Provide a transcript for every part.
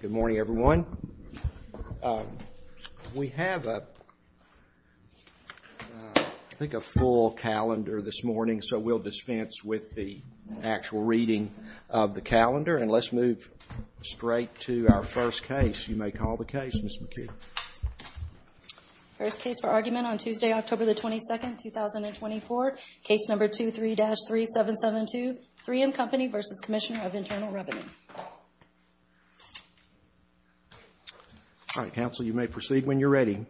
Good morning, everyone. We have, I think, a full calendar this morning, so we'll dispense with the actual reading of the calendar, and let's move straight to our first case. You may call the case, Ms. McKee. First case for argument on Tuesday, October 22nd, 2024, case number 23-3772, 3M Company v. Commissioner of Internal Revenue. All right, counsel, you may proceed when you're ready.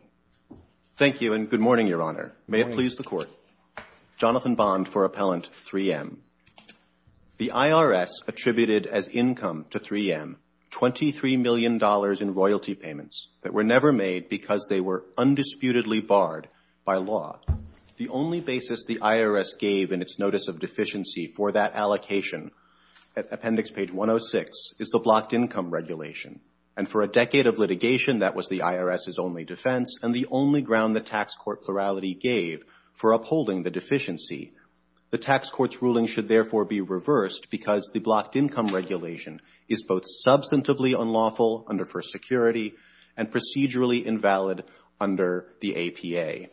Thank you, and good morning, Your Honor. May it please the Court. Jonathan Bond for Appellant 3M. The IRS attributed as income to 3M $23 million in royalty payments that were never made because they were undisputedly barred by law. The only basis the IRS gave in its notice of deficiency for that allocation, at Appendix Page 106, is the blocked income regulation. And for a decade of litigation, that was the IRS's only defense, and the only ground the tax court plurality gave for upholding the deficiency. The tax court's ruling should therefore be reversed because the blocked income regulation is both substantively unlawful under First Security and procedurally invalid under the APA.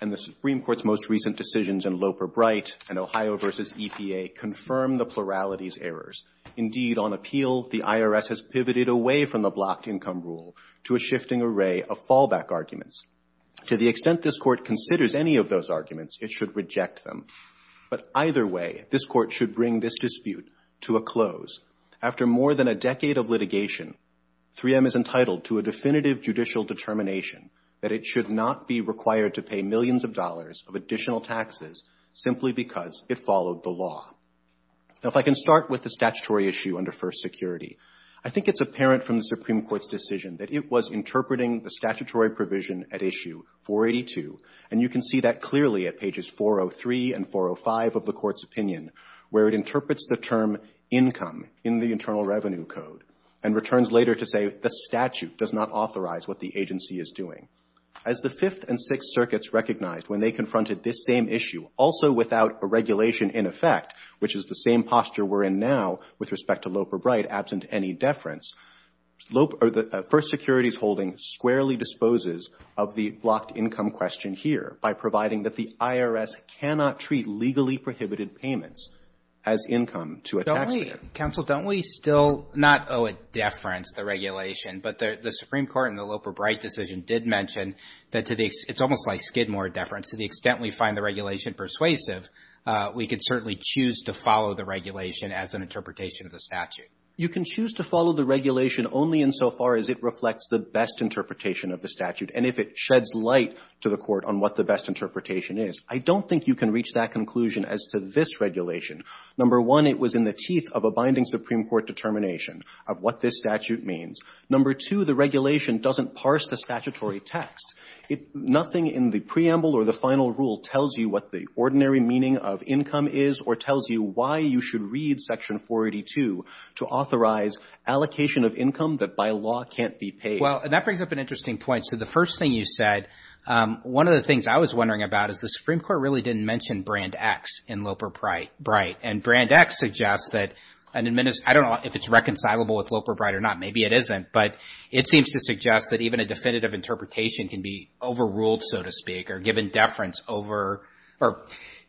And the Supreme Court's most recent decisions in Loper-Bright and Ohio v. EPA confirm the plurality's errors. Indeed, on appeal, the IRS has pivoted away from the blocked income rule to a shifting array of fallback arguments. To the extent this Court considers any of those arguments, it should reject them. But either way, this Court should bring this dispute to a close. After more than a decade of litigation, 3M is entitled to a definitive judicial determination that it should not be required to pay millions of dollars of additional taxes simply because it followed the law. Now, if I can start with the statutory issue under First Security, I think it's apparent from the Supreme Court's decision that it was interpreting the statutory provision at Issue 482, and you can see that clearly at pages 403 and 405 of the Court's opinion, where it interprets the term income in the Internal Revenue Code and returns later to say the statute does not authorize what the agency is doing. As the Fifth and Sixth Circuits recognized when they confronted this same issue, also without a regulation in effect, which is the same posture we're in now with respect to Loper-Bright, absent any deference, First Security's holding squarely disposes of the blocked income question here by providing that the IRS cannot treat legally prohibited payments as income to a taxpayer. Don't we, counsel, don't we still not owe a deference the regulation, but the Supreme Court in the Loper-Bright decision did mention that it's almost like Skidmore deference. To the extent we find the regulation persuasive, we could certainly choose to follow the regulation as an interpretation of the statute. You can choose to follow the regulation only insofar as it reflects the best interpretation of the statute and if it sheds light to the Court on what the best interpretation is. I don't think you can reach that conclusion as to this regulation. Number one, it was in the teeth of a binding Supreme Court determination of what this statute means. Number two, the regulation doesn't parse the statutory text. Nothing in the preamble or the final rule tells you what the ordinary meaning of income is or tells you why you should read Section 482 to authorize allocation of income that by law can't be paid. Well, and that brings up an interesting point. So the first thing you said, one of the things I was wondering about is the Supreme Court really didn't mention Brand X in Loper-Bright. And Brand X suggests that an administrator, I don't know if it's reconcilable with Loper-Bright or not. Maybe it isn't. But it seems to suggest that even a definitive interpretation can be overruled, so to speak, or given deference over or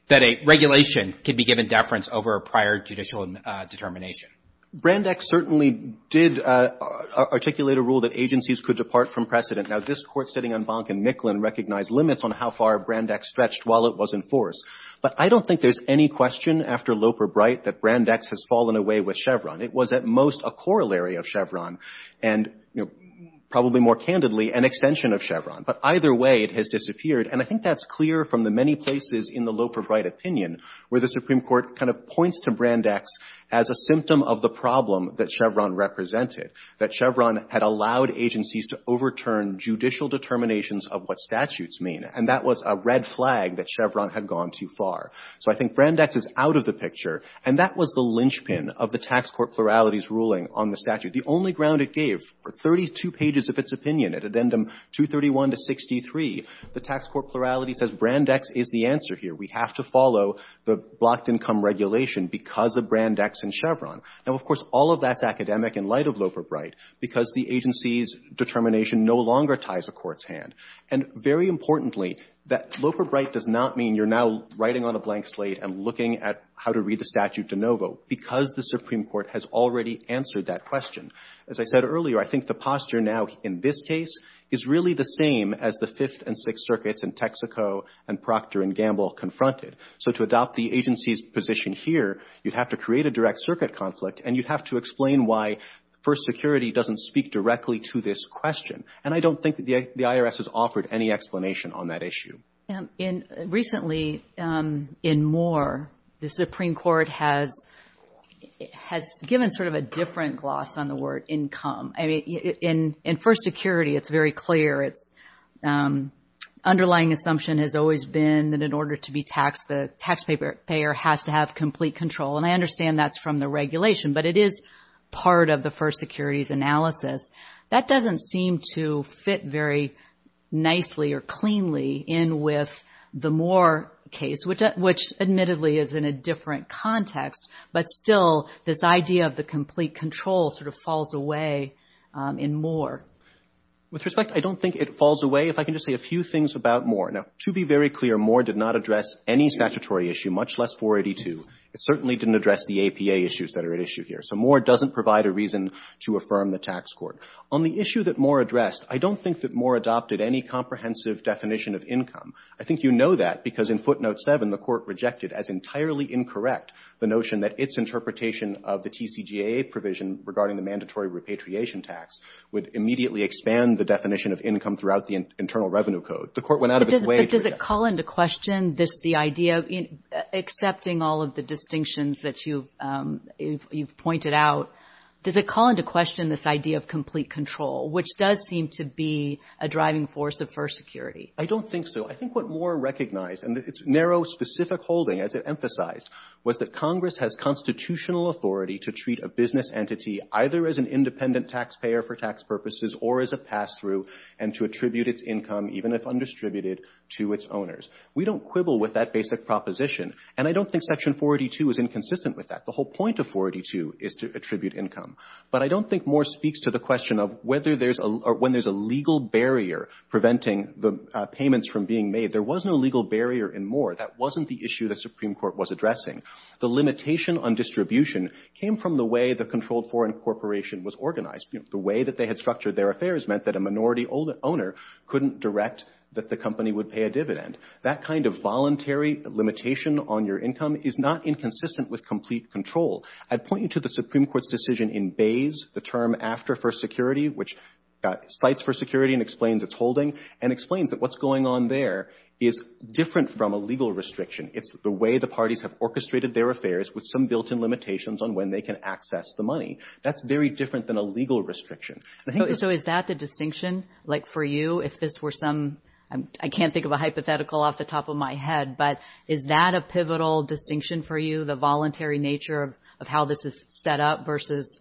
that a regulation can be given deference over a prior judicial determination. Brand X certainly did articulate a rule that agencies could depart from precedent. Now, this Court sitting on Bonk and Micklin recognized limits on how far Brand X stretched while it was in force. But I don't think there's any question after Loper-Bright that Brand X has fallen away with Chevron. It was at most a corollary of Chevron and, you know, probably more candidly, an extension of Chevron. But either way, it has disappeared. And I think that's clear from the many places in the Loper-Bright opinion where the Supreme Court kind of points to Brand X as a symptom of the problem that Chevron represented, that Chevron had allowed agencies to overturn judicial determinations of what statutes mean. And that was a red flag that Chevron had gone too far. So I think Brand X is out of the picture. And that was the linchpin of the tax court plurality's ruling on the statute. The only ground it gave for 32 pages of its opinion at addendum 231 to 63, the tax court plurality says Brand X is the answer here. We have to follow the blocked income regulation because of Brand X and Chevron. Now, of course, all of that's academic in light of Loper-Bright because the agency's determination no longer ties the Court's hand. And very importantly, that Loper-Bright does not mean you're now writing on a blank slate and looking at how to read the statute de novo because the Supreme Court has already answered that question. As I said earlier, I think the posture now in this case is really the same as the Fifth and Sixth Circuits in Texaco and Procter and Gamble confronted. So to adopt the agency's position here, you'd have to create a direct circuit conflict and you'd have to explain why First Security doesn't speak directly to this question. And I don't think the IRS has offered any explanation on that issue. And recently, in Moore, the Supreme Court has given sort of a different gloss on the underlying assumption has always been that in order to be taxed, the taxpayer has to have complete control. And I understand that's from the regulation, but it is part of the First Security's analysis. That doesn't seem to fit very nicely or cleanly in with the Moore case, which admittedly is in a different context. But still, this idea of the complete control sort of falls away in Moore. With respect, I don't think it falls away. If I can just say a few things about Moore. Now, to be very clear, Moore did not address any statutory issue, much less 482. It certainly didn't address the APA issues that are at issue here. So Moore doesn't provide a reason to affirm the tax court. On the issue that Moore addressed, I don't think that Moore adopted any comprehensive definition of income. I think you know that because in footnote 7, the Court rejected as entirely incorrect the notion that its interpretation of the TCGA provision regarding the mandatory repatriation tax would immediately expand the definition of income throughout the Internal Revenue Code. The Court went out of its way to reject it. But does it call into question this, the idea of, accepting all of the distinctions that you've pointed out, does it call into question this idea of complete control, which does seem to be a driving force of First Security? I don't think so. I think what Moore recognized, and its narrow, specific holding, as it emphasized, was that Congress has constitutional authority to treat a business entity either as an independent taxpayer for tax purposes or as a pass-through, and to attribute its income, even if undistributed, to its owners. We don't quibble with that basic proposition. And I don't think Section 482 is inconsistent with that. The whole point of 482 is to attribute income. But I don't think Moore speaks to the question of whether there's a, or when there's a legal barrier preventing the payments from being made. There was no legal barrier in Moore. That wasn't the issue the Supreme Court was addressing. The limitation on distribution came from the way the controlled foreign corporation was organized. You know, the way that they had structured their affairs meant that a minority owner couldn't direct that the company would pay a dividend. That kind of voluntary limitation on your income is not inconsistent with complete control. I'd point you to the Supreme Court's decision in Bays, the term after First Security, which cites First Security and explains its holding, and explains that what's going on there is different from a legal restriction. It's the way the parties have orchestrated their affairs with some built-in limitations on when they can access the money. That's very different than a legal restriction. So is that the distinction, like for you, if this were some, I can't think of a hypothetical off the top of my head, but is that a pivotal distinction for you, the voluntary nature of how this is set up versus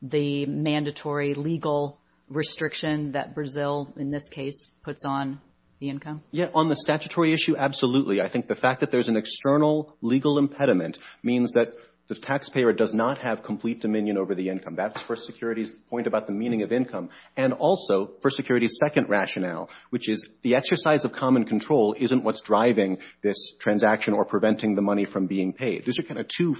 the mandatory legal restriction that Brazil, in this case, puts on the income? Yeah. On the statutory issue, absolutely. I think the fact that there's an external legal impediment means that the taxpayer does not have complete dominion over the income. That's First Security's point about the meaning of income. And also, First Security's second rationale, which is the exercise of common control isn't what's driving this transaction or preventing the money from being paid. Those are kind of two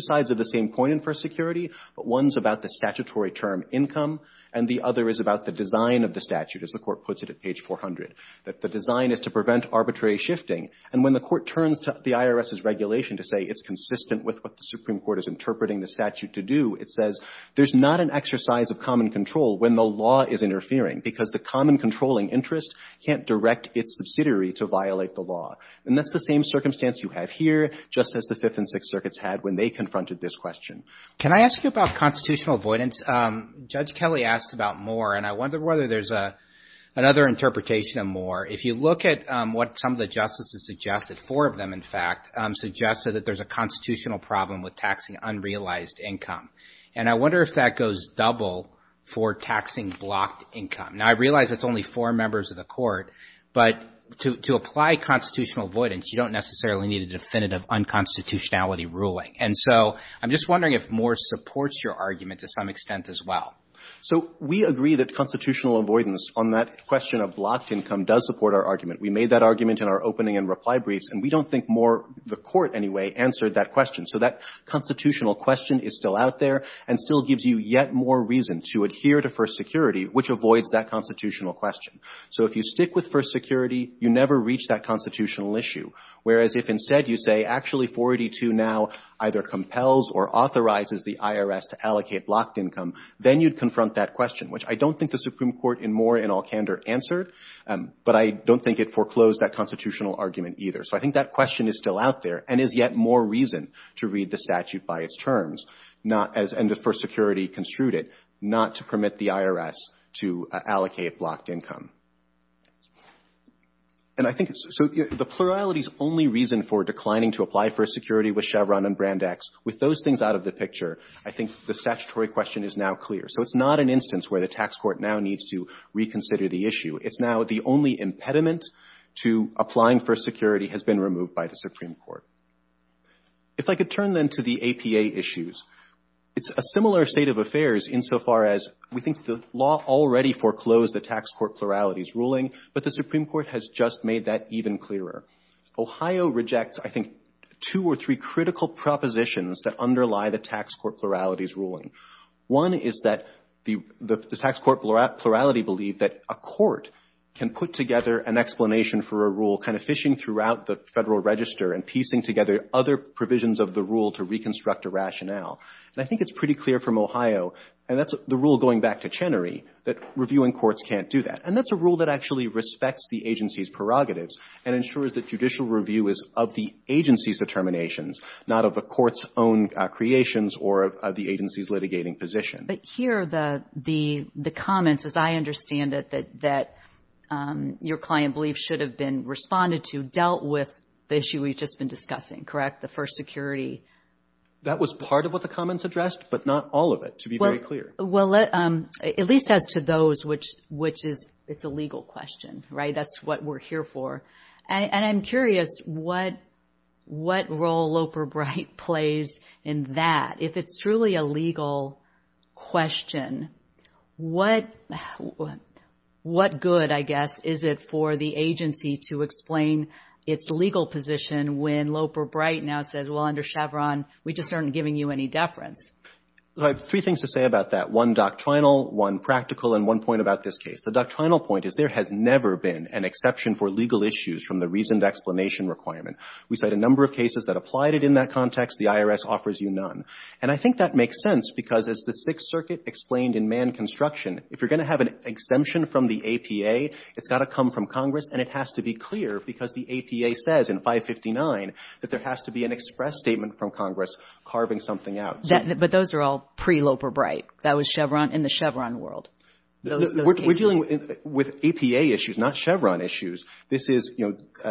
sides of the same coin in First Security, but one's about the statutory term income, and the other is about the design of the statute, as the Court puts it at page 400, that the design is to prevent arbitrary shifting. And when the Court turns to the IRS's regulation to say it's consistent with what the Supreme Court is interpreting the statute to do, it says there's not an exercise of common control when the law is interfering because the common controlling interest can't direct its subsidiary to violate the law. And that's the same circumstance you have here, just as the Fifth and Sixth Circuits had when they confronted this question. Can I ask you about constitutional avoidance? Judge Kelly asked about Moore, and I wonder whether there's another interpretation of Moore. If you look at what some of the justices suggested, four of them, in fact, suggested that there's a constitutional problem with taxing unrealized income. And I wonder if that goes double for taxing blocked income. Now, I realize it's only four members of the Court, but to apply constitutional avoidance, you don't necessarily need a definitive unconstitutionality ruling. And so I'm just wondering if Moore supports your argument to some extent as well. So we agree that constitutional avoidance on that question of blocked income does support our argument. We made that argument in our opening and reply briefs, and we don't think Moore, the Court anyway, answered that question. So that constitutional question is still out there and still gives you yet more reason to adhere to First Security, which avoids that constitutional question. So if you stick with First Security, you never reach that constitutional issue. Whereas if instead you say, actually, 482 now either compels or authorizes the IRS to allocate blocked income, then you'd confront that question, which I don't think the Supreme Court in Moore and Alcander answered, but I don't think it foreclosed that constitutional argument either. So I think that question is still out there and is yet more reason to read the statute by its terms, not as — and as First Security construed it, not to permit the IRS to allocate blocked income. And I think — so the plurality's only reason for declining to apply for a security with Chevron and Brandeis, with those things out of the picture, I think the statutory question is now clear. So it's not an instance where the tax court now needs to reconsider the issue. It's now the only impediment to applying for a security has been removed by the Supreme Court. If I could turn, then, to the APA issues, it's a similar state of affairs insofar as we think the law already foreclosed the tax court plurality's ruling, but the Supreme Court has just made that even clearer. Ohio rejects, I think, two or three critical propositions that underlie the tax court plurality's ruling. One is that the tax court plurality believed that a court can put together an explanation for a rule, kind of fishing throughout the Federal Register and piecing together other provisions of the rule to reconstruct a rationale. And I think it's pretty clear from Ohio, and that's the rule going back to Chenery, that reviewing courts can't do that. And that's a rule that actually respects the agency's prerogatives and ensures that judicial review is of the agency's determinations, not of the court's own creations or of the agency's litigating position. But here, the comments, as I understand it, that your client believes should have been responded to dealt with the issue we've just been discussing, correct? The first security That was part of what the comments addressed, but not all of it, to be very clear. Well, at least as to those, which is, it's a legal question, right? That's what we're here for. And I'm curious, what role Loper-Bright plays in that? If it's truly a legal question, what good, I guess, is it for the agency to explain its legal position when Loper-Bright now says, well, under Chevron, we just aren't giving you any deference? Well, I have three things to say about that, one doctrinal, one practical, and one point about this case. The doctrinal point is there has never been an exception for legal issues from the reasoned explanation requirement. We cite a number of cases that applied it in that context. The IRS offers you none. And I think that makes sense because as the Sixth Circuit explained in Mann Construction, if you're going to have an exemption from the APA, it's got to come from Congress, and it has to be clear because the APA says in 559 that there has to be an express statement from Congress carving something out. But those are all pre-Loper-Bright. That was Chevron, in the Chevron world, those cases. We're dealing with APA issues, not Chevron issues. This is, you know, the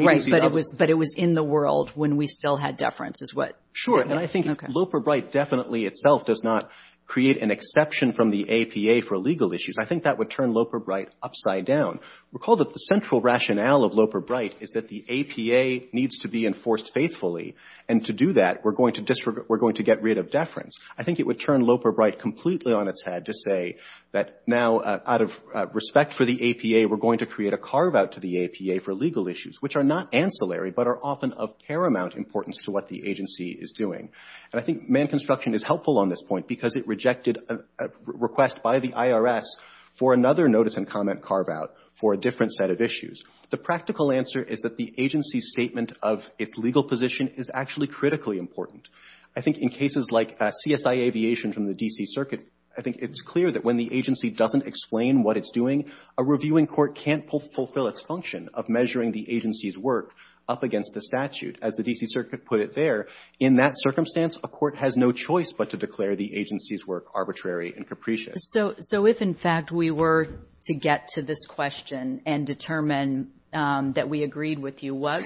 agency of— Right. But it was in the world when we still had deference is what— Sure. And I think Loper-Bright definitely itself does not create an exception from the APA for legal issues. I think that would turn Loper-Bright upside down. Recall that the central rationale of Loper-Bright is that the APA needs to be enforced faithfully. And to do that, we're going to get rid of deference. I think it would turn Loper-Bright completely on its head to say that now out of respect for the APA, we're going to create a carve-out to the APA for legal issues, which are not ancillary but are often of paramount importance to what the agency is doing. And I think Mann Construction is helpful on this point because it rejected a request by the IRS for another notice and comment carve-out for a different set of issues. The practical answer is that the agency's statement of its legal position is actually critically important. I think in cases like CSI Aviation from the D.C. Circuit, I think it's clear that when the agency doesn't explain what it's doing, a reviewing court can't fulfill its function of measuring the agency's work up against the statute. As the D.C. Circuit put it there, in that circumstance, a court has no choice but to declare the agency's work arbitrary and capricious. So if, in fact, we were to get to this question and determine that we agreed with you, what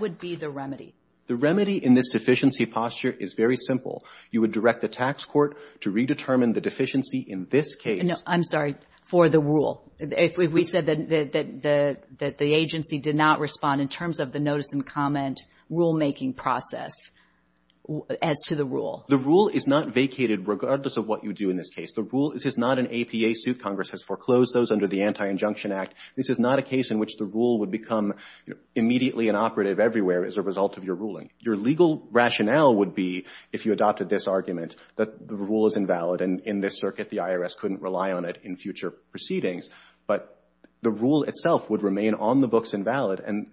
would be the remedy? The remedy in this deficiency posture is very simple. You would direct the tax court to redetermine the deficiency in this case. I'm sorry. For the rule. We said that the agency did not respond in terms of the notice and comment rulemaking process as to the rule. The rule is not vacated regardless of what you do in this case. This is not an APA suit. Congress has foreclosed those under the Anti-Injunction Act. This is not a case in which the rule would become immediately inoperative everywhere as a result of your ruling. Your legal rationale would be, if you adopted this argument, that the rule is invalid and in this circuit the IRS couldn't rely on it in future proceedings, but the rule itself would remain on the books inoperative and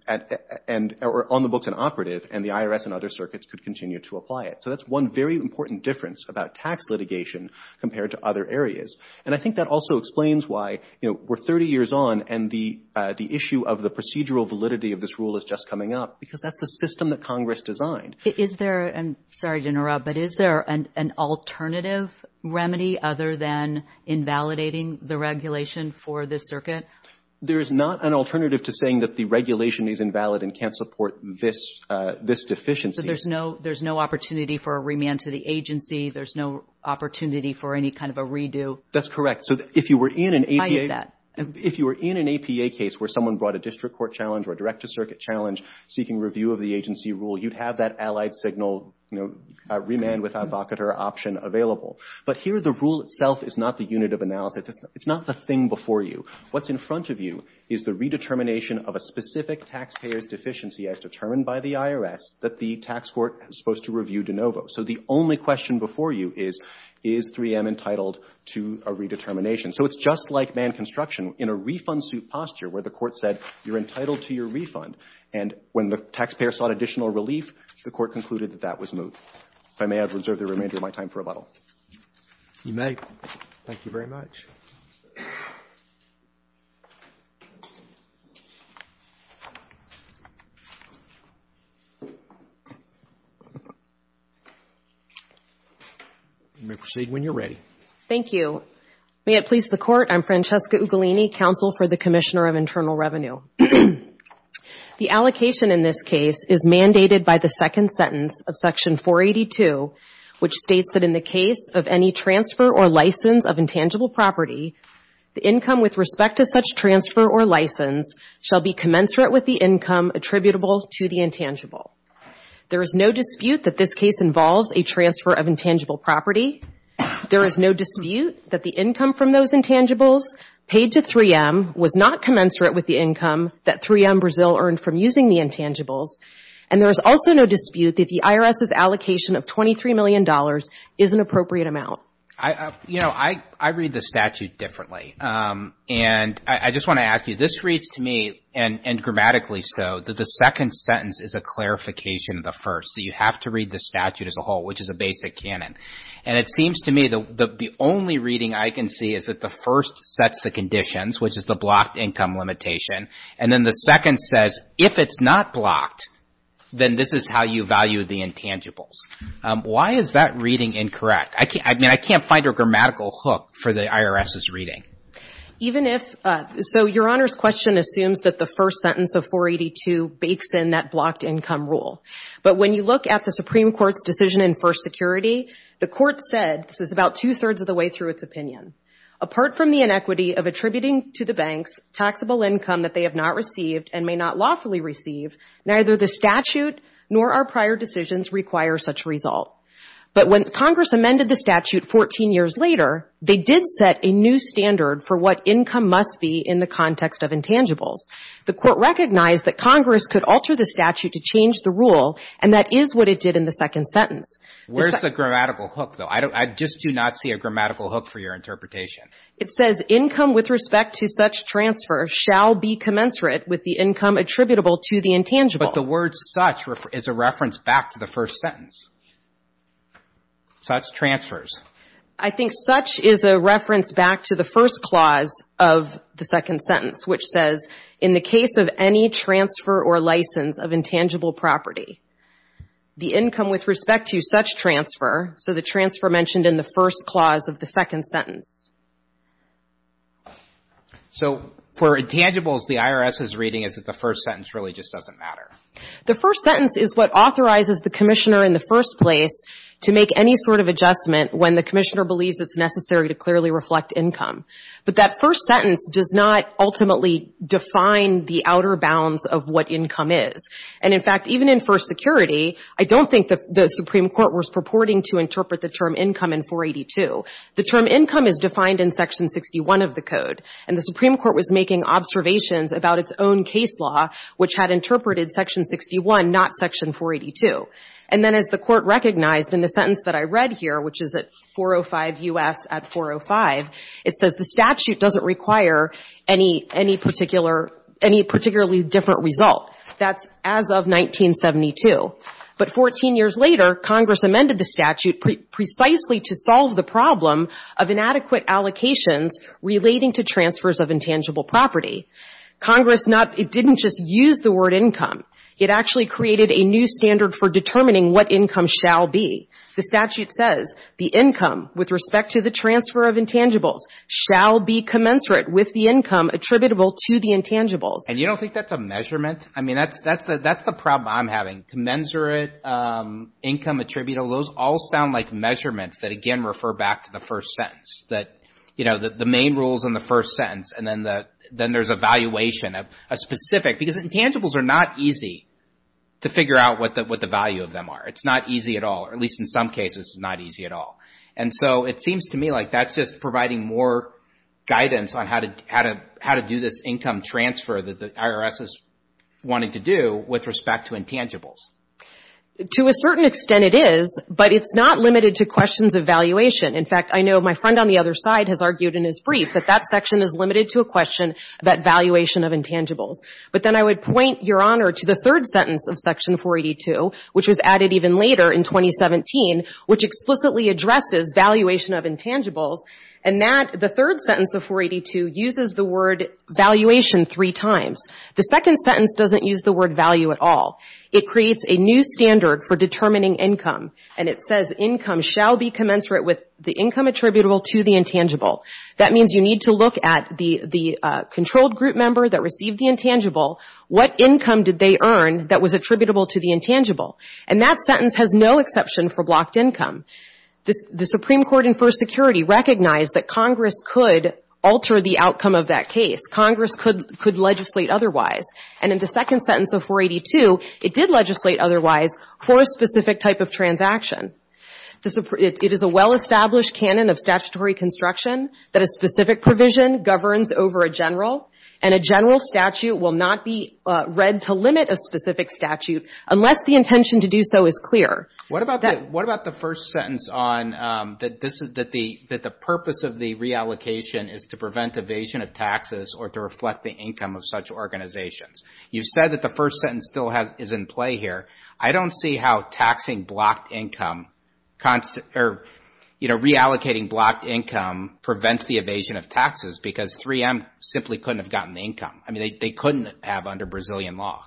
the IRS and other circuits could continue to apply it. So that's one very important difference about tax litigation compared to other areas. And I think that also explains why, you know, we're 30 years on and the issue of the procedural validity of this rule is just coming up because that's the system that Congress designed. Is there, I'm sorry to interrupt, but is there an alternative remedy other than invalidating the regulation for this circuit? There is not an alternative to saying that the regulation is invalid and can't support this deficiency. So there's no opportunity for a remand to the agency? There's no opportunity for any kind of a redo? That's correct. So if you were in an APA case where someone brought a district court challenge or a direct to circuit challenge seeking review of the agency rule, you'd have that allied signal, you know, remand with ad vocator option available. But here the rule itself is not the unit of analysis. It's not the thing before you. What's in front of you is the redetermination of a specific taxpayer's deficiency as determined by the IRS that the tax court is supposed to review de novo. So the only question before you is, is 3M entitled to a redetermination? So it's just like man construction. In a refund suit posture where the court said you're entitled to your refund and when the taxpayer sought additional relief, the court concluded that that was moved. If I may, I would reserve the remainder of my time for rebuttal. You may. Thank you very much. You may proceed when you're ready. Thank you. May it please the court, I'm Francesca Ugolini, counsel for the Commissioner of Internal Revenue. The allocation in this case is mandated by the second sentence of section 482 which states that in the case of any transfer or license of intangible property, the income with respect to such transfer or license shall be commensurate with the income attributable to the intangible. There is no dispute that this case involves a transfer of intangible property. There is no dispute that the income from those intangibles paid to 3M was not commensurate with the income that 3M Brazil earned from using the intangibles. And there is also no dispute that the IRS's allocation of $23 million is an appropriate amount. You know, I read the statute differently. And I just want to ask you, this reads to me, and grammatically so, that the second sentence is a clarification of the first. So you have to read the statute as a whole which is a basic canon. And it seems to me that the only reading I can see is that the first sets the conditions which is the blocked income limitation. And then the second says, if it's not blocked, then this is how you value the intangibles. Why is that reading incorrect? I mean, I can't find a grammatical hook for the IRS's reading. Even if, so Your Honor's question assumes that the first sentence of 482 bakes in that blocked income rule. But when you look at the Supreme Court's decision in First Security, the court said, this is about two-thirds of the way through its opinion, apart from the inequity of attributing to banks taxable income that they have not received and may not lawfully receive, neither the statute nor our prior decisions require such a result. But when Congress amended the statute 14 years later, they did set a new standard for what income must be in the context of intangibles. The court recognized that Congress could alter the statute to change the rule, and that is what it did in the second sentence. Where's the grammatical hook, though? I just do not see a grammatical hook for your interpretation. It says, income with respect to such transfer shall be commensurate with the income attributable to the intangible. But the word such is a reference back to the first sentence. Such transfers. I think such is a reference back to the first clause of the second sentence, which says, in the case of any transfer or license of intangible property, the income with respect to such transfer. So the transfer mentioned in the first clause of the second sentence. So for intangibles, the IRS is reading as if the first sentence really just doesn't matter. The first sentence is what authorizes the commissioner in the first place to make any sort of adjustment when the commissioner believes it's necessary to clearly reflect income. But that first sentence does not ultimately define the outer bounds of what income is. And in fact, even in first security, I don't think the Supreme Court was purporting to interpret the term income in 482. The term income is defined in section 61 of the code. And the Supreme Court was making observations about its own case law, which had interpreted section 61, not section 482. And then as the court recognized in the sentence that I read here, which is at 405 U.S. at 405, it says the statute doesn't require any particularly different result. That's as of 1972. But 14 years later, Congress amended the statute precisely to solve the problem of inadequate allocations relating to transfers of intangible property. Congress not, it didn't just use the word income. It actually created a new standard for determining what income shall be. The statute says the income with respect to the transfer of intangibles shall be commensurate with the income attributable to the intangibles. And you don't think that's a measurement? I mean, that's the problem I'm having. Commensurate income attributable, those all sound like measurements that again refer back to the first sentence. That, you know, the main rules in the first sentence, and then there's a valuation of a specific. Because intangibles are not easy to figure out what the value of them are. It's not easy at all. Or at least in some cases, it's not easy at all. And so it seems to me like that's just providing more guidance on how to do this income transfer that the IRS is wanting to do with respect to intangibles. To a certain extent it is, but it's not limited to questions of valuation. In fact, I know my friend on the other side has argued in his brief that that section is limited to a question about valuation of intangibles. But then I would point, Your Honor, to the third sentence of Section 482, which was added even later in 2017, which explicitly addresses valuation of intangibles. And that, the third sentence of 482, uses the word valuation three times. The second sentence doesn't use the word value at all. It creates a new standard for determining income. And it says income shall be commensurate with the income attributable to the intangible. That means you need to look at the controlled group member that received the intangible, what income did they earn that was attributable to the intangible. And that sentence has no exception for blocked income. The Supreme Court in First Security recognized that Congress could alter the outcome of that case. Congress could legislate otherwise. And in the second sentence of 482, it did legislate otherwise for a specific type of transaction. It is a well-established canon of statutory construction that a specific provision governs over a general, and a general statute will not be read to limit a specific statute unless the intention to do so is clear. What about the first sentence on that the purpose of the reallocation is to prevent evasion of taxes or to reflect the income of such organizations? You said that the first sentence still is in play here. I don't see how reallocating blocked income prevents the evasion of taxes because 3M simply couldn't have gotten the income. I mean, they couldn't have under Brazilian law.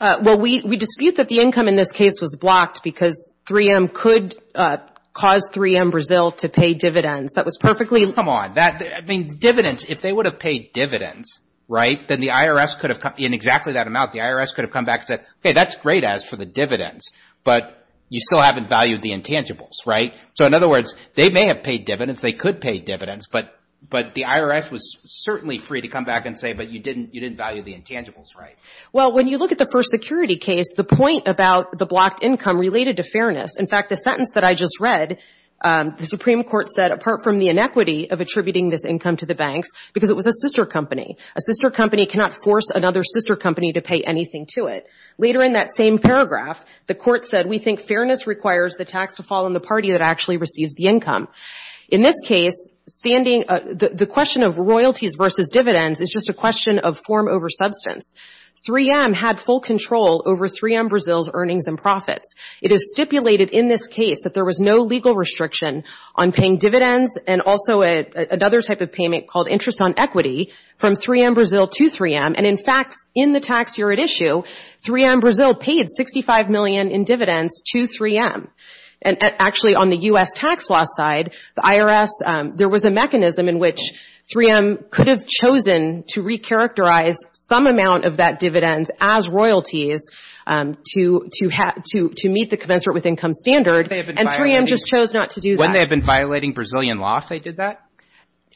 Well, we dispute that the income in this case was blocked because 3M could cause 3M Brazil to pay dividends. That was perfectly... Come on. That, I mean, dividends, if they would have paid dividends, right, then the IRS could have, in exactly that amount, the IRS could have come back and said, hey, that's great as for the dividends, but you still haven't valued the intangibles, right? So in other words, they may have paid dividends, they could pay dividends, but the IRS was certainly free to come back and say, but you didn't value the intangibles, right? Well, when you look at the first security case, the point about the blocked income related to fairness. In fact, the sentence that I just read, the Supreme Court said, apart from the inequity of attributing this income to the banks, because it was a sister company. A sister company cannot force another sister company to pay anything to it. Later in that same paragraph, the court said, we think fairness requires the tax to fall on the party that actually receives the income. In this case, the question of royalties versus dividends is just a question of form over substance. 3M had full control over 3M Brazil's earnings and profits. It is stipulated in this case that there was no legal restriction on paying dividends and also another type of payment called interest on equity from 3M Brazil to 3M. And in fact, in the tax year at issue, 3M Brazil paid 65 million in dividends to 3M. And actually, on the U.S. tax law side, the IRS, there was a mechanism in which 3M could have chosen to recharacterize some amount of that dividends as royalties to meet the commensurate with income standard. And 3M just chose not to do that. When they have been violating Brazilian law, if they did that?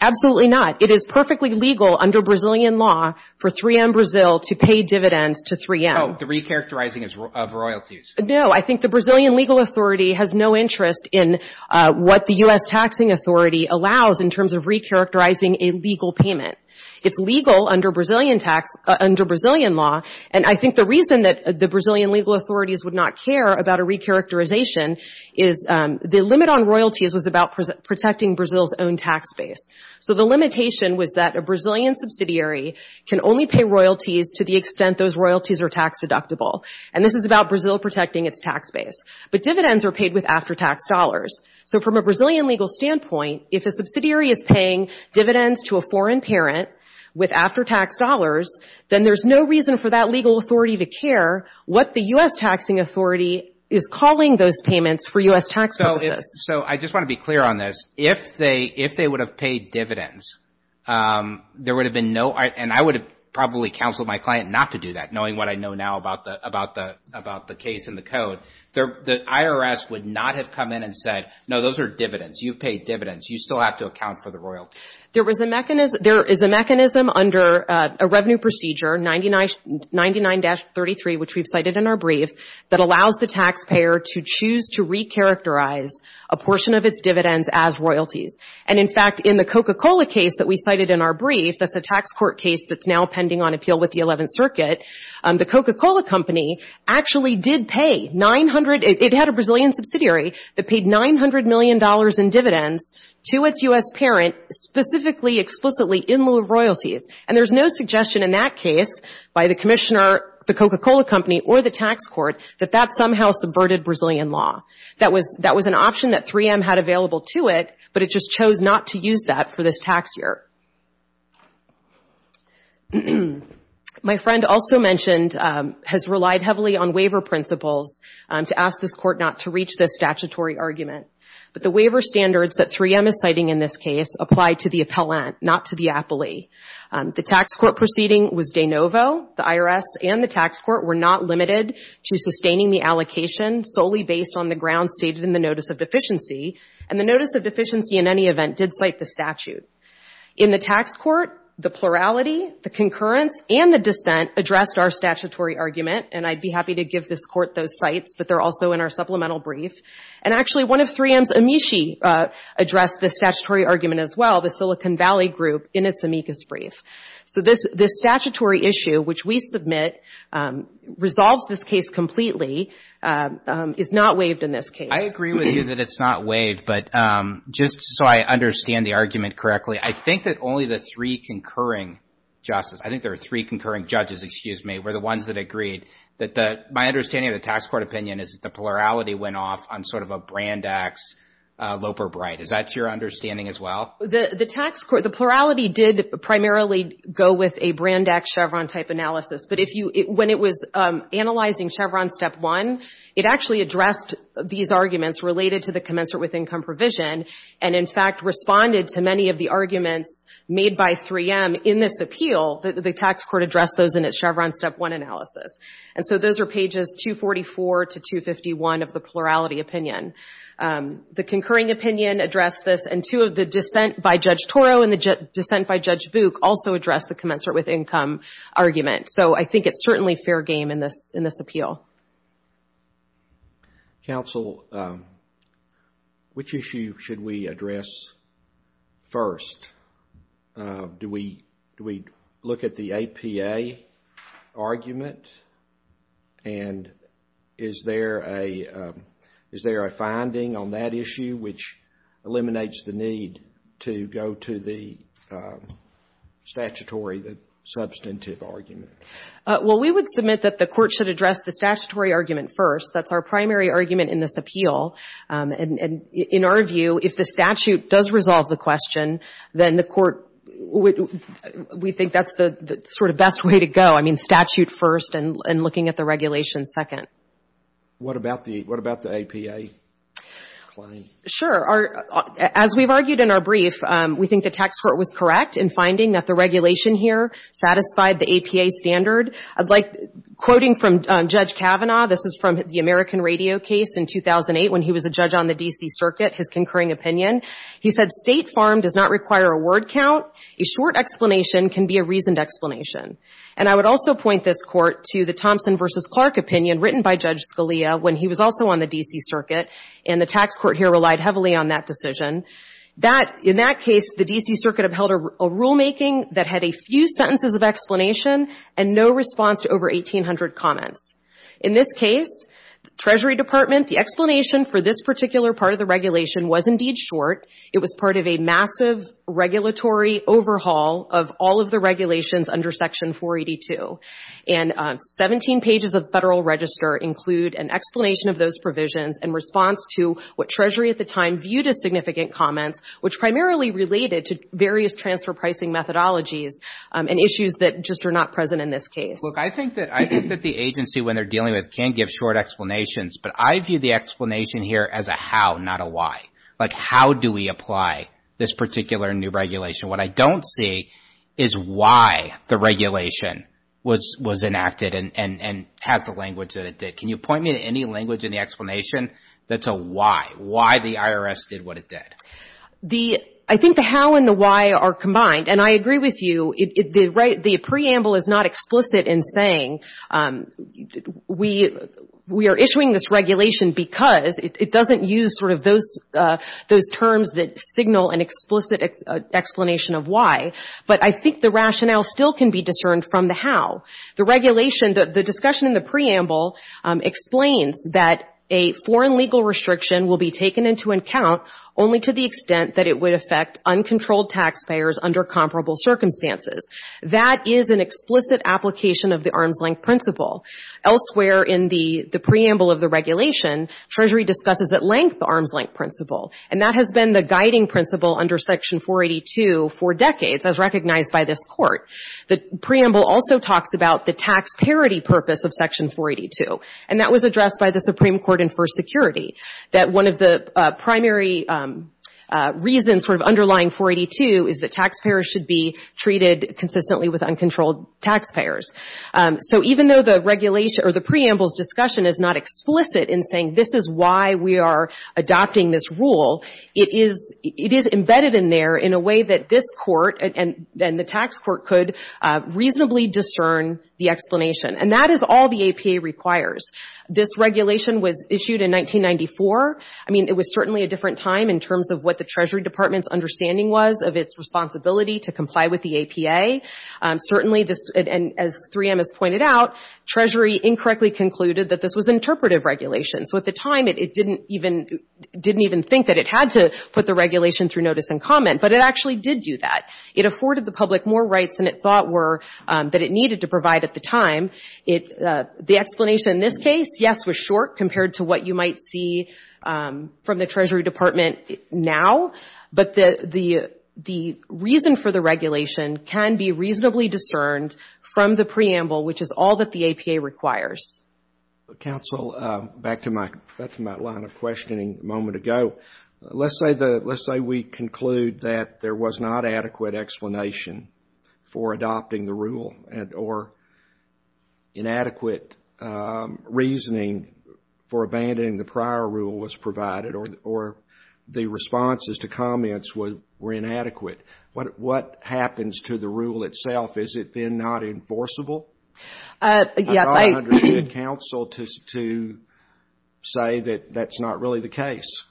Absolutely not. It is perfectly legal under Brazilian law for 3M Brazil to pay dividends to 3M. Oh, the recharacterizing of royalties. No. I think the Brazilian legal authority has no interest in what the U.S. taxing authority allows in terms of recharacterizing a legal payment. It's legal under Brazilian tax, under Brazilian law. And I think the reason that the Brazilian legal authorities would not care about a recharacterization is the limit on royalties was about protecting Brazil's own tax base. So the limitation was that a Brazilian subsidiary can only pay royalties to the extent those royalties are tax deductible. And this is about Brazil protecting its tax base. But dividends are paid with after-tax dollars. So from a Brazilian legal standpoint, if a subsidiary is paying dividends to a foreign parent with after-tax dollars, then there's no reason for that legal authority to care what the U.S. taxing authority is calling those payments for U.S. tax purposes. So I just want to be clear on this. If they would have paid dividends, there would have been no—and I would have probably counseled my client not to do that, knowing what I know now about the case and the code. The IRS would not have come in and said, no, those are dividends. You paid dividends. You still have to account for the royalties. There was a mechanism—there is a mechanism under a revenue procedure, 99-33, which we've cited in our brief, that allows the taxpayer to choose to recharacterize a portion of its dividends as royalties. And in fact, in the Coca-Cola case that we cited in our brief, that's a tax court case that's now pending on appeal with the Eleventh Circuit, the Coca-Cola company actually did pay 900—it had a Brazilian subsidiary that paid $900 million in dividends to its U.S. parent specifically, explicitly in lieu of royalties. And there's no suggestion in that case by the commissioner, the Coca-Cola company, or the tax court that that somehow subverted Brazilian law. That was—that was an option that 3M had available to it, but it just chose not to use that for this tax year. My friend also mentioned—has relied heavily on waiver principles to ask this court not to reach this statutory argument, but the waiver standards that 3M is citing in this case apply to the appellant, not to the appellee. The tax court proceeding was de novo. The IRS and the tax court were not limited to sustaining the allocation solely based on the grounds stated in the Notice of Deficiency, and the Notice of Deficiency in any event did cite the statute. In the tax court, the plurality, the concurrence, and the dissent addressed our statutory argument, and I'd be happy to give this court those cites, but they're also in our supplemental brief. And actually, one of 3M's amici addressed this statutory argument as well, the Silicon Valley group, in its amicus brief. So this statutory issue, which we submit, resolves this case completely, is not waived in this case. I agree with you that it's not waived, but just so I understand the argument correctly, I think that only the three concurring justices—I think there are three concurring judges, excuse me—were the ones that agreed that the—my understanding of the tax court opinion is that the plurality went off on sort of a Brandax, Loper, Bright. Is that your understanding as well? The tax court—the plurality did primarily go with a Brandax Chevron-type analysis, but if you—when it was analyzing Chevron Step 1, it actually addressed these arguments related to the commensurate with income provision, and in fact responded to many of the arguments made by 3M in this appeal. The tax court addressed those in its Chevron Step 1 analysis. And so those are pages 244 to 251 of the plurality opinion. The concurring opinion addressed this, and two of the dissent by Judge Toro and the dissent by Judge Book also addressed the commensurate with income argument. So I think it's certainly fair game in this—in this appeal. Counsel, which issue should we address first? Do we—do we look at the APA argument? And is there a—is there a finding on that issue which eliminates the need to go to the statutory, the substantive argument? Well, we would submit that the court should address the statutory argument first. That's our primary argument in this appeal. And in our view, if the statute does resolve the question, then the court would—we think that's the sort of best way to go. I mean, statute first and looking at the regulations second. What about the—what about the APA claim? Sure. As we've argued in our brief, we think the tax court was correct in finding that the regulation here satisfied the APA standard. I'd like—quoting from Judge Kavanaugh, this is from the American Radio case in 2008 when he was a judge on the D.C. Circuit, his concurring opinion. He said, State farm does not require a word count. A short explanation can be a reasoned explanation. And I would also point this court to the Thompson v. Clark opinion written by Judge Scalia when he was also on the D.C. Circuit, and the tax court here relied heavily on that decision. That—in that case, the D.C. Circuit upheld a rulemaking that had a few sentences of explanation and no response to over 1,800 comments. In this case, the Treasury Department, the explanation for this particular part of the regulation was indeed short. It was part of a massive regulatory overhaul of all of the regulations under Section 482. And 17 pages of the Federal Register include an explanation of those provisions in response to what Treasury at the time viewed as significant comments, which primarily related to various transfer pricing methodologies and issues that just are not present in this case. Look, I think that—I think that the agency, when they're dealing with it, can give short explanations, but I view the explanation here as a how, not a why. Like, how do we apply this particular new regulation? What I don't see is why the regulation was enacted and has the language that it did. Can you point me to any language in the explanation that's a why? Why the IRS did what it did? The—I think the how and the why are combined, and I agree with you. The preamble is not explicit in saying we are issuing this regulation because. It doesn't use sort of those terms that signal an explicit explanation of why. But I think the rationale still can be discerned from the how. The regulation—the discussion in the preamble explains that a foreign legal restriction will be taken into account only to the extent that it would affect uncontrolled taxpayers under comparable circumstances. That is an explicit application of the arm's length principle. Elsewhere in the preamble of the regulation, Treasury discusses at length the arm's length principle, and that has been the guiding principle under Section 482 for decades, as recognized by this Court. The preamble also talks about the tax parity purpose of Section 482, and that was addressed by the Supreme Court in First Security, that one of the primary reasons for underlying 482 is that taxpayers should be treated consistently with uncontrolled taxpayers. So even though the regulation—or the preamble's discussion is not explicit in saying this is why we are adopting this rule, it is embedded in there in a way that this Court and the tax court could reasonably discern the explanation. And that is all the APA requires. This regulation was issued in 1994. I mean, it was certainly a different time in terms of what the Treasury Department's understanding was of its responsibility to comply with the APA. Certainly this—and as 3M has pointed out, Treasury incorrectly concluded that this was interpretive regulation. So at the time, it didn't even think that it had to put the regulation through notice and comment, but it actually did do that. It afforded the public more rights than it thought were—that it needed to provide at the time. The explanation in this case, yes, was short compared to what you might see from the Treasury Department now, but the reason for the regulation can be reasonably discerned from the preamble, which is all that the APA requires. Counsel, back to my line of questioning a moment ago. Let's say we conclude that there was not adequate explanation for adopting the rule or inadequate reasoning for abandoning the prior rule was provided or the responses to comments were inadequate. What happens to the rule itself? Is it then not enforceable? I don't understand counsel to say that that's not really the case.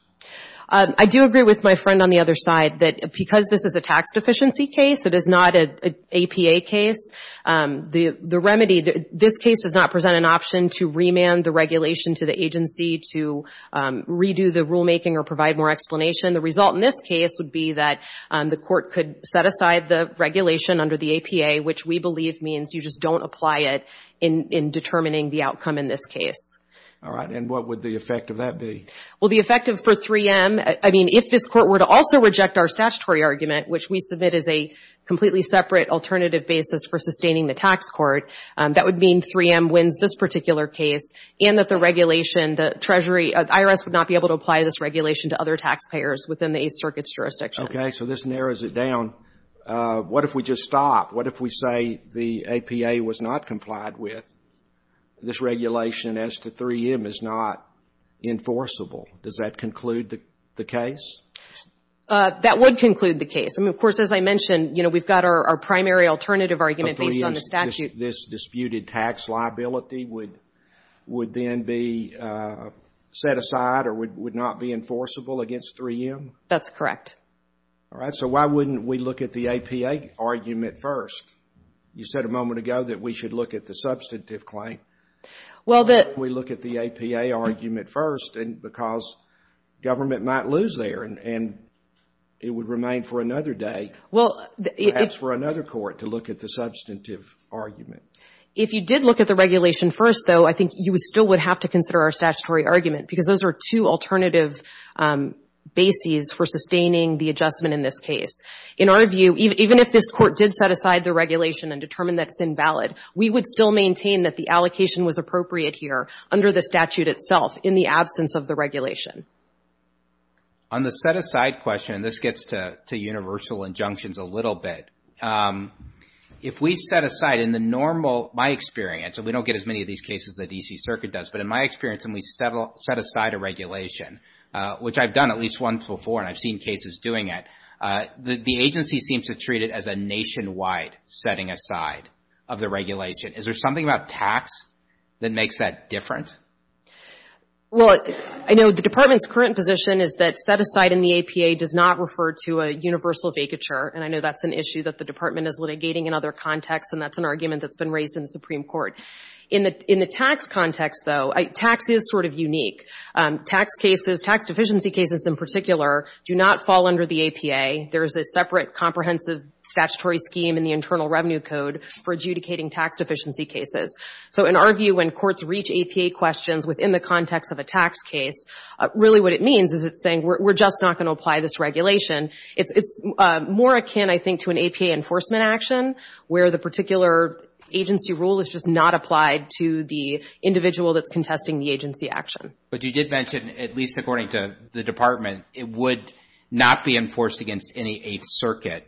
I do agree with my friend on the other side that because this is a tax deficiency case, it is not an APA case. The remedy—this case does not present an option to remand the regulation to the agency to redo the rulemaking or provide more explanation. The result in this case would be that the court could set aside the regulation under the APA, which we believe means you just don't apply it in determining the outcome in this case. All right, and what would the effect of that be? Well, the effect for 3M—I mean, if this court were to also reject our statutory argument, which we submit as a completely separate alternative basis for sustaining the tax court, that would mean 3M wins this particular case and that the regulation, the Treasury— IRS would not be able to apply this regulation to other taxpayers within the Eighth Circuit's jurisdiction. Okay, so this narrows it down. What if we just stop? What if we say the APA was not complied with, this regulation as to 3M is not enforceable? Does that conclude the case? That would conclude the case. I mean, of course, as I mentioned, you know, we've got our primary alternative argument based on the statute. This disputed tax liability would then be set aside or would not be enforceable against 3M? That's correct. All right, so why wouldn't we look at the APA argument first? You said a moment ago that we should look at the substantive claim. Why wouldn't we look at the APA argument first because government might lose there and it would remain for another day, perhaps for another court, to look at the substantive argument? If you did look at the regulation first, though, I think you still would have to consider our statutory argument because those are two alternative bases for sustaining the adjustment in this case. In our view, even if this court did set aside the regulation and determine that it's invalid, we would still maintain that the allocation was appropriate here under the statute itself in the absence of the regulation. On the set aside question, and this gets to universal injunctions a little bit, if we set aside in the normal, my experience, and we don't get as many of these cases as the D.C. Circuit does, but in my experience when we set aside a regulation, which I've done at least once before and I've seen cases doing it, the agency seems to treat it as a nationwide setting aside of the regulation. Is there something about tax that makes that different? Well, I know the Department's current position is that set aside in the APA does not refer to a universal vacature, and I know that's an issue that the Department is litigating in other contexts, and that's an argument that's been raised in the Supreme Court. In the tax context, though, tax is sort of unique. Tax cases, tax deficiency cases in particular, do not fall under the APA. There is a separate comprehensive statutory scheme in the Internal Revenue Code for adjudicating tax deficiency cases. So in our view, when courts reach APA questions within the context of a tax case, really what it means is it's saying we're just not going to apply this regulation. It's more akin, I think, to an APA enforcement action, where the particular agency rule is just not applied to the individual that's contesting the agency action. But you did mention, at least according to the Department, it would not be enforced against any Eighth Circuit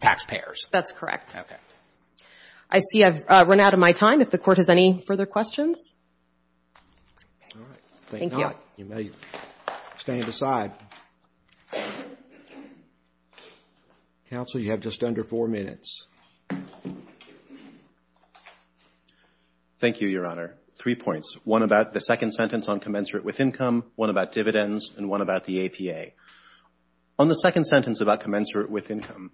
taxpayers. That's correct. Okay. I see I've run out of my time. If the Court has any further questions? All right. Thank you. You may stand aside. Counsel, you have just under four minutes. Thank you, Your Honor. Three points. One about the second sentence on commensurate with income, one about dividends, and one about the APA. On the second sentence about commensurate with income,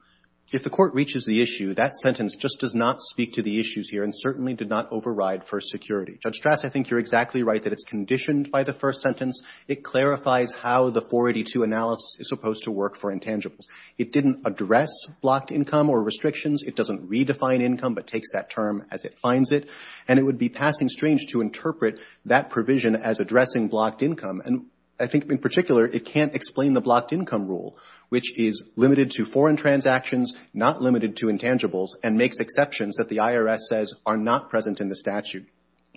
if the Court reaches the issue, that sentence just does not speak to the issues here and certainly did not override First Security. Judge Strass, I think you're exactly right that it's conditioned by the first sentence. It clarifies how the 482 analysis is supposed to work for intangibles. It didn't address blocked income or restrictions. It doesn't redefine income but takes that term as it finds it. And it would be passing strange to interpret that provision as addressing blocked income. And I think, in particular, it can't explain the blocked income rule, which is limited to foreign transactions, not limited to intangibles, and makes exceptions that the IRS says are not present in the statute.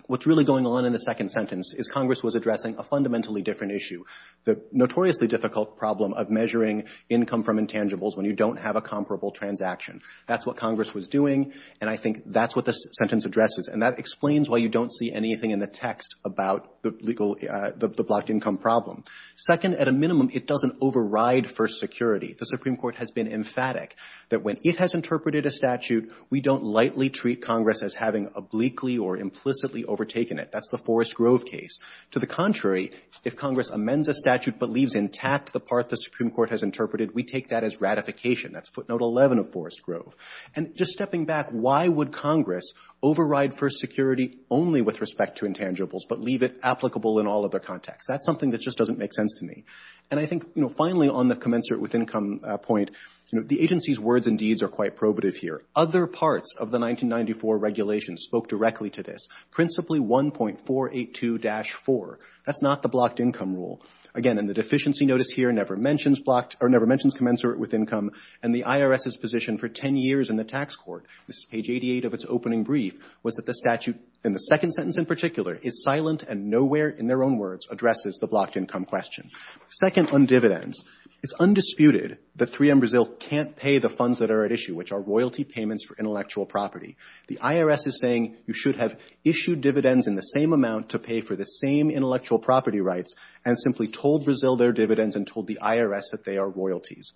What's really going on in the second sentence is Congress was addressing a fundamentally different issue, the notoriously difficult problem of measuring income from intangibles when you don't have a comparable transaction. That's what Congress was doing, and I think that's what this sentence addresses. And that explains why you don't see anything in the text about the blocked income problem. Second, at a minimum, it doesn't override First Security. The Supreme Court has been emphatic that when it has interpreted a statute, we don't lightly treat Congress as having obliquely or implicitly overtaken it. That's the Forest Grove case. To the contrary, if Congress amends a statute but leaves intact the part the Supreme Court has interpreted, we take that as ratification. That's footnote 11 of Forest Grove. And just stepping back, why would Congress override First Security only with respect to intangibles but leave it applicable in all other contexts? That's something that just doesn't make sense to me. And I think, you know, finally, on the commensurate with income point, the agency's words and deeds are quite probative here. Other parts of the 1994 regulation spoke directly to this, principally 1.482-4. That's not the blocked income rule. Again, in the deficiency notice here never mentions commensurate with income, and the IRS's position for 10 years in the tax court, this is page 88 of its opening brief, was that the statute, in the second sentence in particular, is silent and nowhere in their own words addresses the blocked income question. Second, on dividends, it's undisputed that 3M Brazil can't pay the funds that are at issue, which are royalty payments for intellectual property. The IRS is saying you should have issued dividends in the same amount to pay for the same intellectual property rights and simply told Brazil their dividends and told the IRS that they are royalties.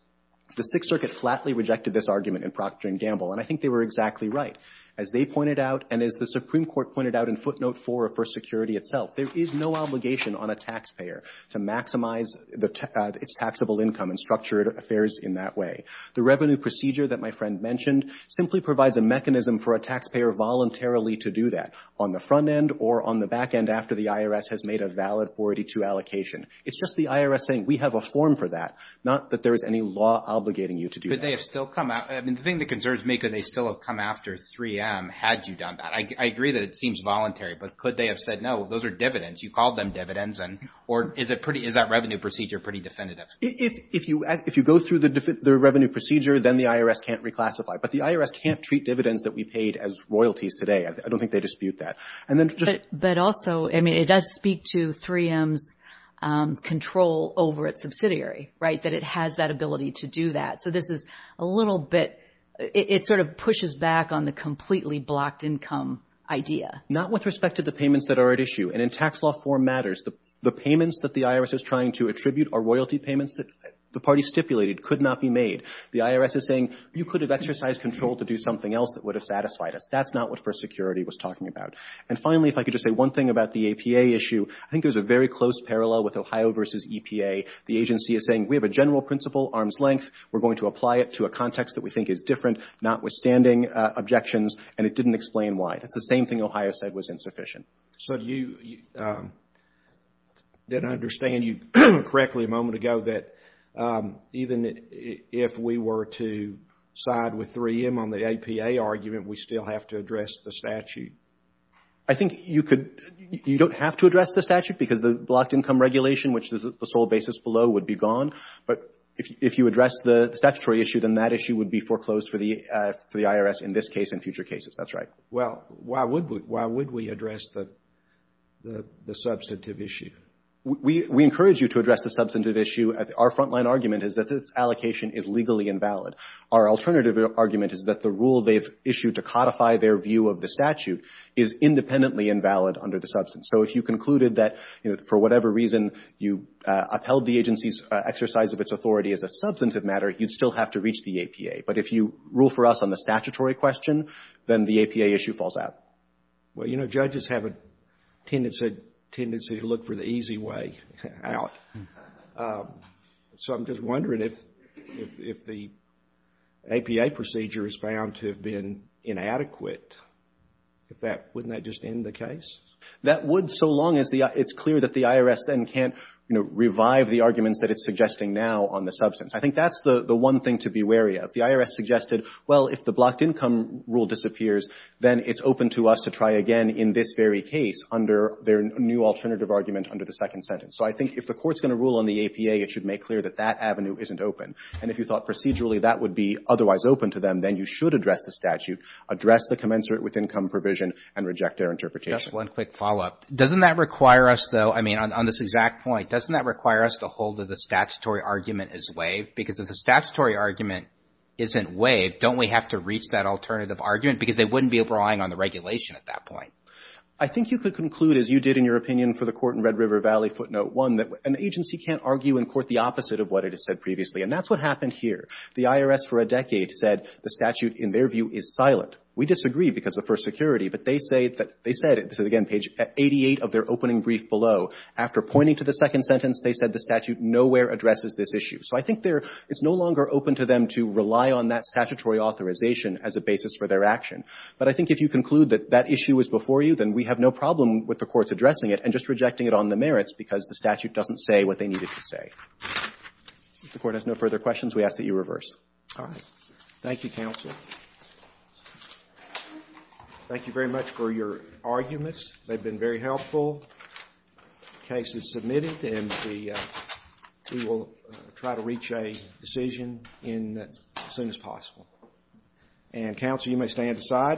The Sixth Circuit flatly rejected this argument in Procter & Gamble, and I think they were exactly right. As they pointed out and as the Supreme Court pointed out in footnote 4 of First Security itself, there is no obligation on a taxpayer to maximize its taxable income and structured affairs in that way. The revenue procedure that my friend mentioned simply provides a mechanism for a taxpayer voluntarily to do that, on the front end or on the back end after the IRS has made a valid 482 allocation. It's just the IRS saying we have a form for that, not that there is any law obligating you to do that. Could they have still come out? I mean, the thing that concerns me, could they still have come after 3M had you done that? I agree that it seems voluntary, but could they have said, no, those are dividends, you called them dividends, or is that revenue procedure pretty definitive? If you go through the revenue procedure, then the IRS can't reclassify, but the IRS can't treat dividends that we paid as royalties today. I don't think they dispute that. But also, I mean, it does speak to 3M's control over its subsidiary, right, that it has that ability to do that. So this is a little bit, it sort of pushes back on the completely blocked income idea. Not with respect to the payments that are at issue. And in tax law form matters, the payments that the IRS is trying to attribute are royalty payments that the party stipulated could not be made. The IRS is saying you could have exercised control to do something else that would have satisfied us. That's not what First Security was talking about. And finally, if I could just say one thing about the APA issue, I think there's a very close parallel with Ohio versus EPA. The agency is saying we have a general principle, arm's length, we're going to apply it to a context that we think is different, notwithstanding objections, and it didn't explain why. That's the same thing Ohio said was insufficient. So you didn't understand correctly a moment ago that even if we were to side with 3M on the APA argument, we still have to address the statute. I think you could, you don't have to address the statute because the blocked income regulation, which is the sole basis below, would be gone. But if you address the statutory issue, then that issue would be foreclosed for the IRS in this case and future cases. That's right. Well, why would we address the substantive issue? We encourage you to address the substantive issue. Our frontline argument is that this allocation is legally invalid. Our alternative argument is that the rule they've issued to codify their view of the statute is independently invalid under the substance. So if you concluded that for whatever reason you upheld the agency's exercise of its authority as a substantive matter, you'd still have to reach the APA. But if you rule for us on the statutory question, then the APA issue falls out. Well, you know, judges have a tendency to look for the easy way out. So I'm just wondering if the APA procedure is found to have been inadequate, wouldn't that just end the case? That would so long as it's clear that the IRS then can't revive the arguments that it's suggesting now on the substance. I think that's the one thing to be wary of. The IRS suggested, well, if the blocked income rule disappears, then it's open to us to try again in this very case under their new alternative argument under the second sentence. So I think if the Court's going to rule on the APA, it should make clear that that avenue isn't open. And if you thought procedurally that would be otherwise open to them, then you should address the statute, address the commensurate with income provision, and reject their interpretation. Just one quick follow-up. Doesn't that require us, though, I mean, on this exact point, doesn't that require us to hold that the statutory argument is waived? Because if the statutory argument isn't waived, don't we have to reach that alternative argument? Because they wouldn't be able to rely on the regulation at that point. I think you could conclude, as you did in your opinion for the Court in Red River Valley footnote one, that an agency can't argue in court the opposite of what it has said previously. And that's what happened here. The IRS for a decade said the statute, in their view, is silent. We disagree because of first security. But they said, again, page 88 of their opening brief below, after pointing to the second sentence, they said the statute nowhere addresses this issue. So I think it's no longer open to them to rely on that statutory authorization as a basis for their action. But I think if you conclude that that issue is before you, then we have no problem with the courts addressing it and just rejecting it on the merits because the statute doesn't say what they needed to say. If the Court has no further questions, we ask that you reverse. Thank you, counsel. Thank you very much for your arguments. They've been very helpful. The case is submitted and we will try to reach a decision as soon as possible. And, counsel, you may stand aside.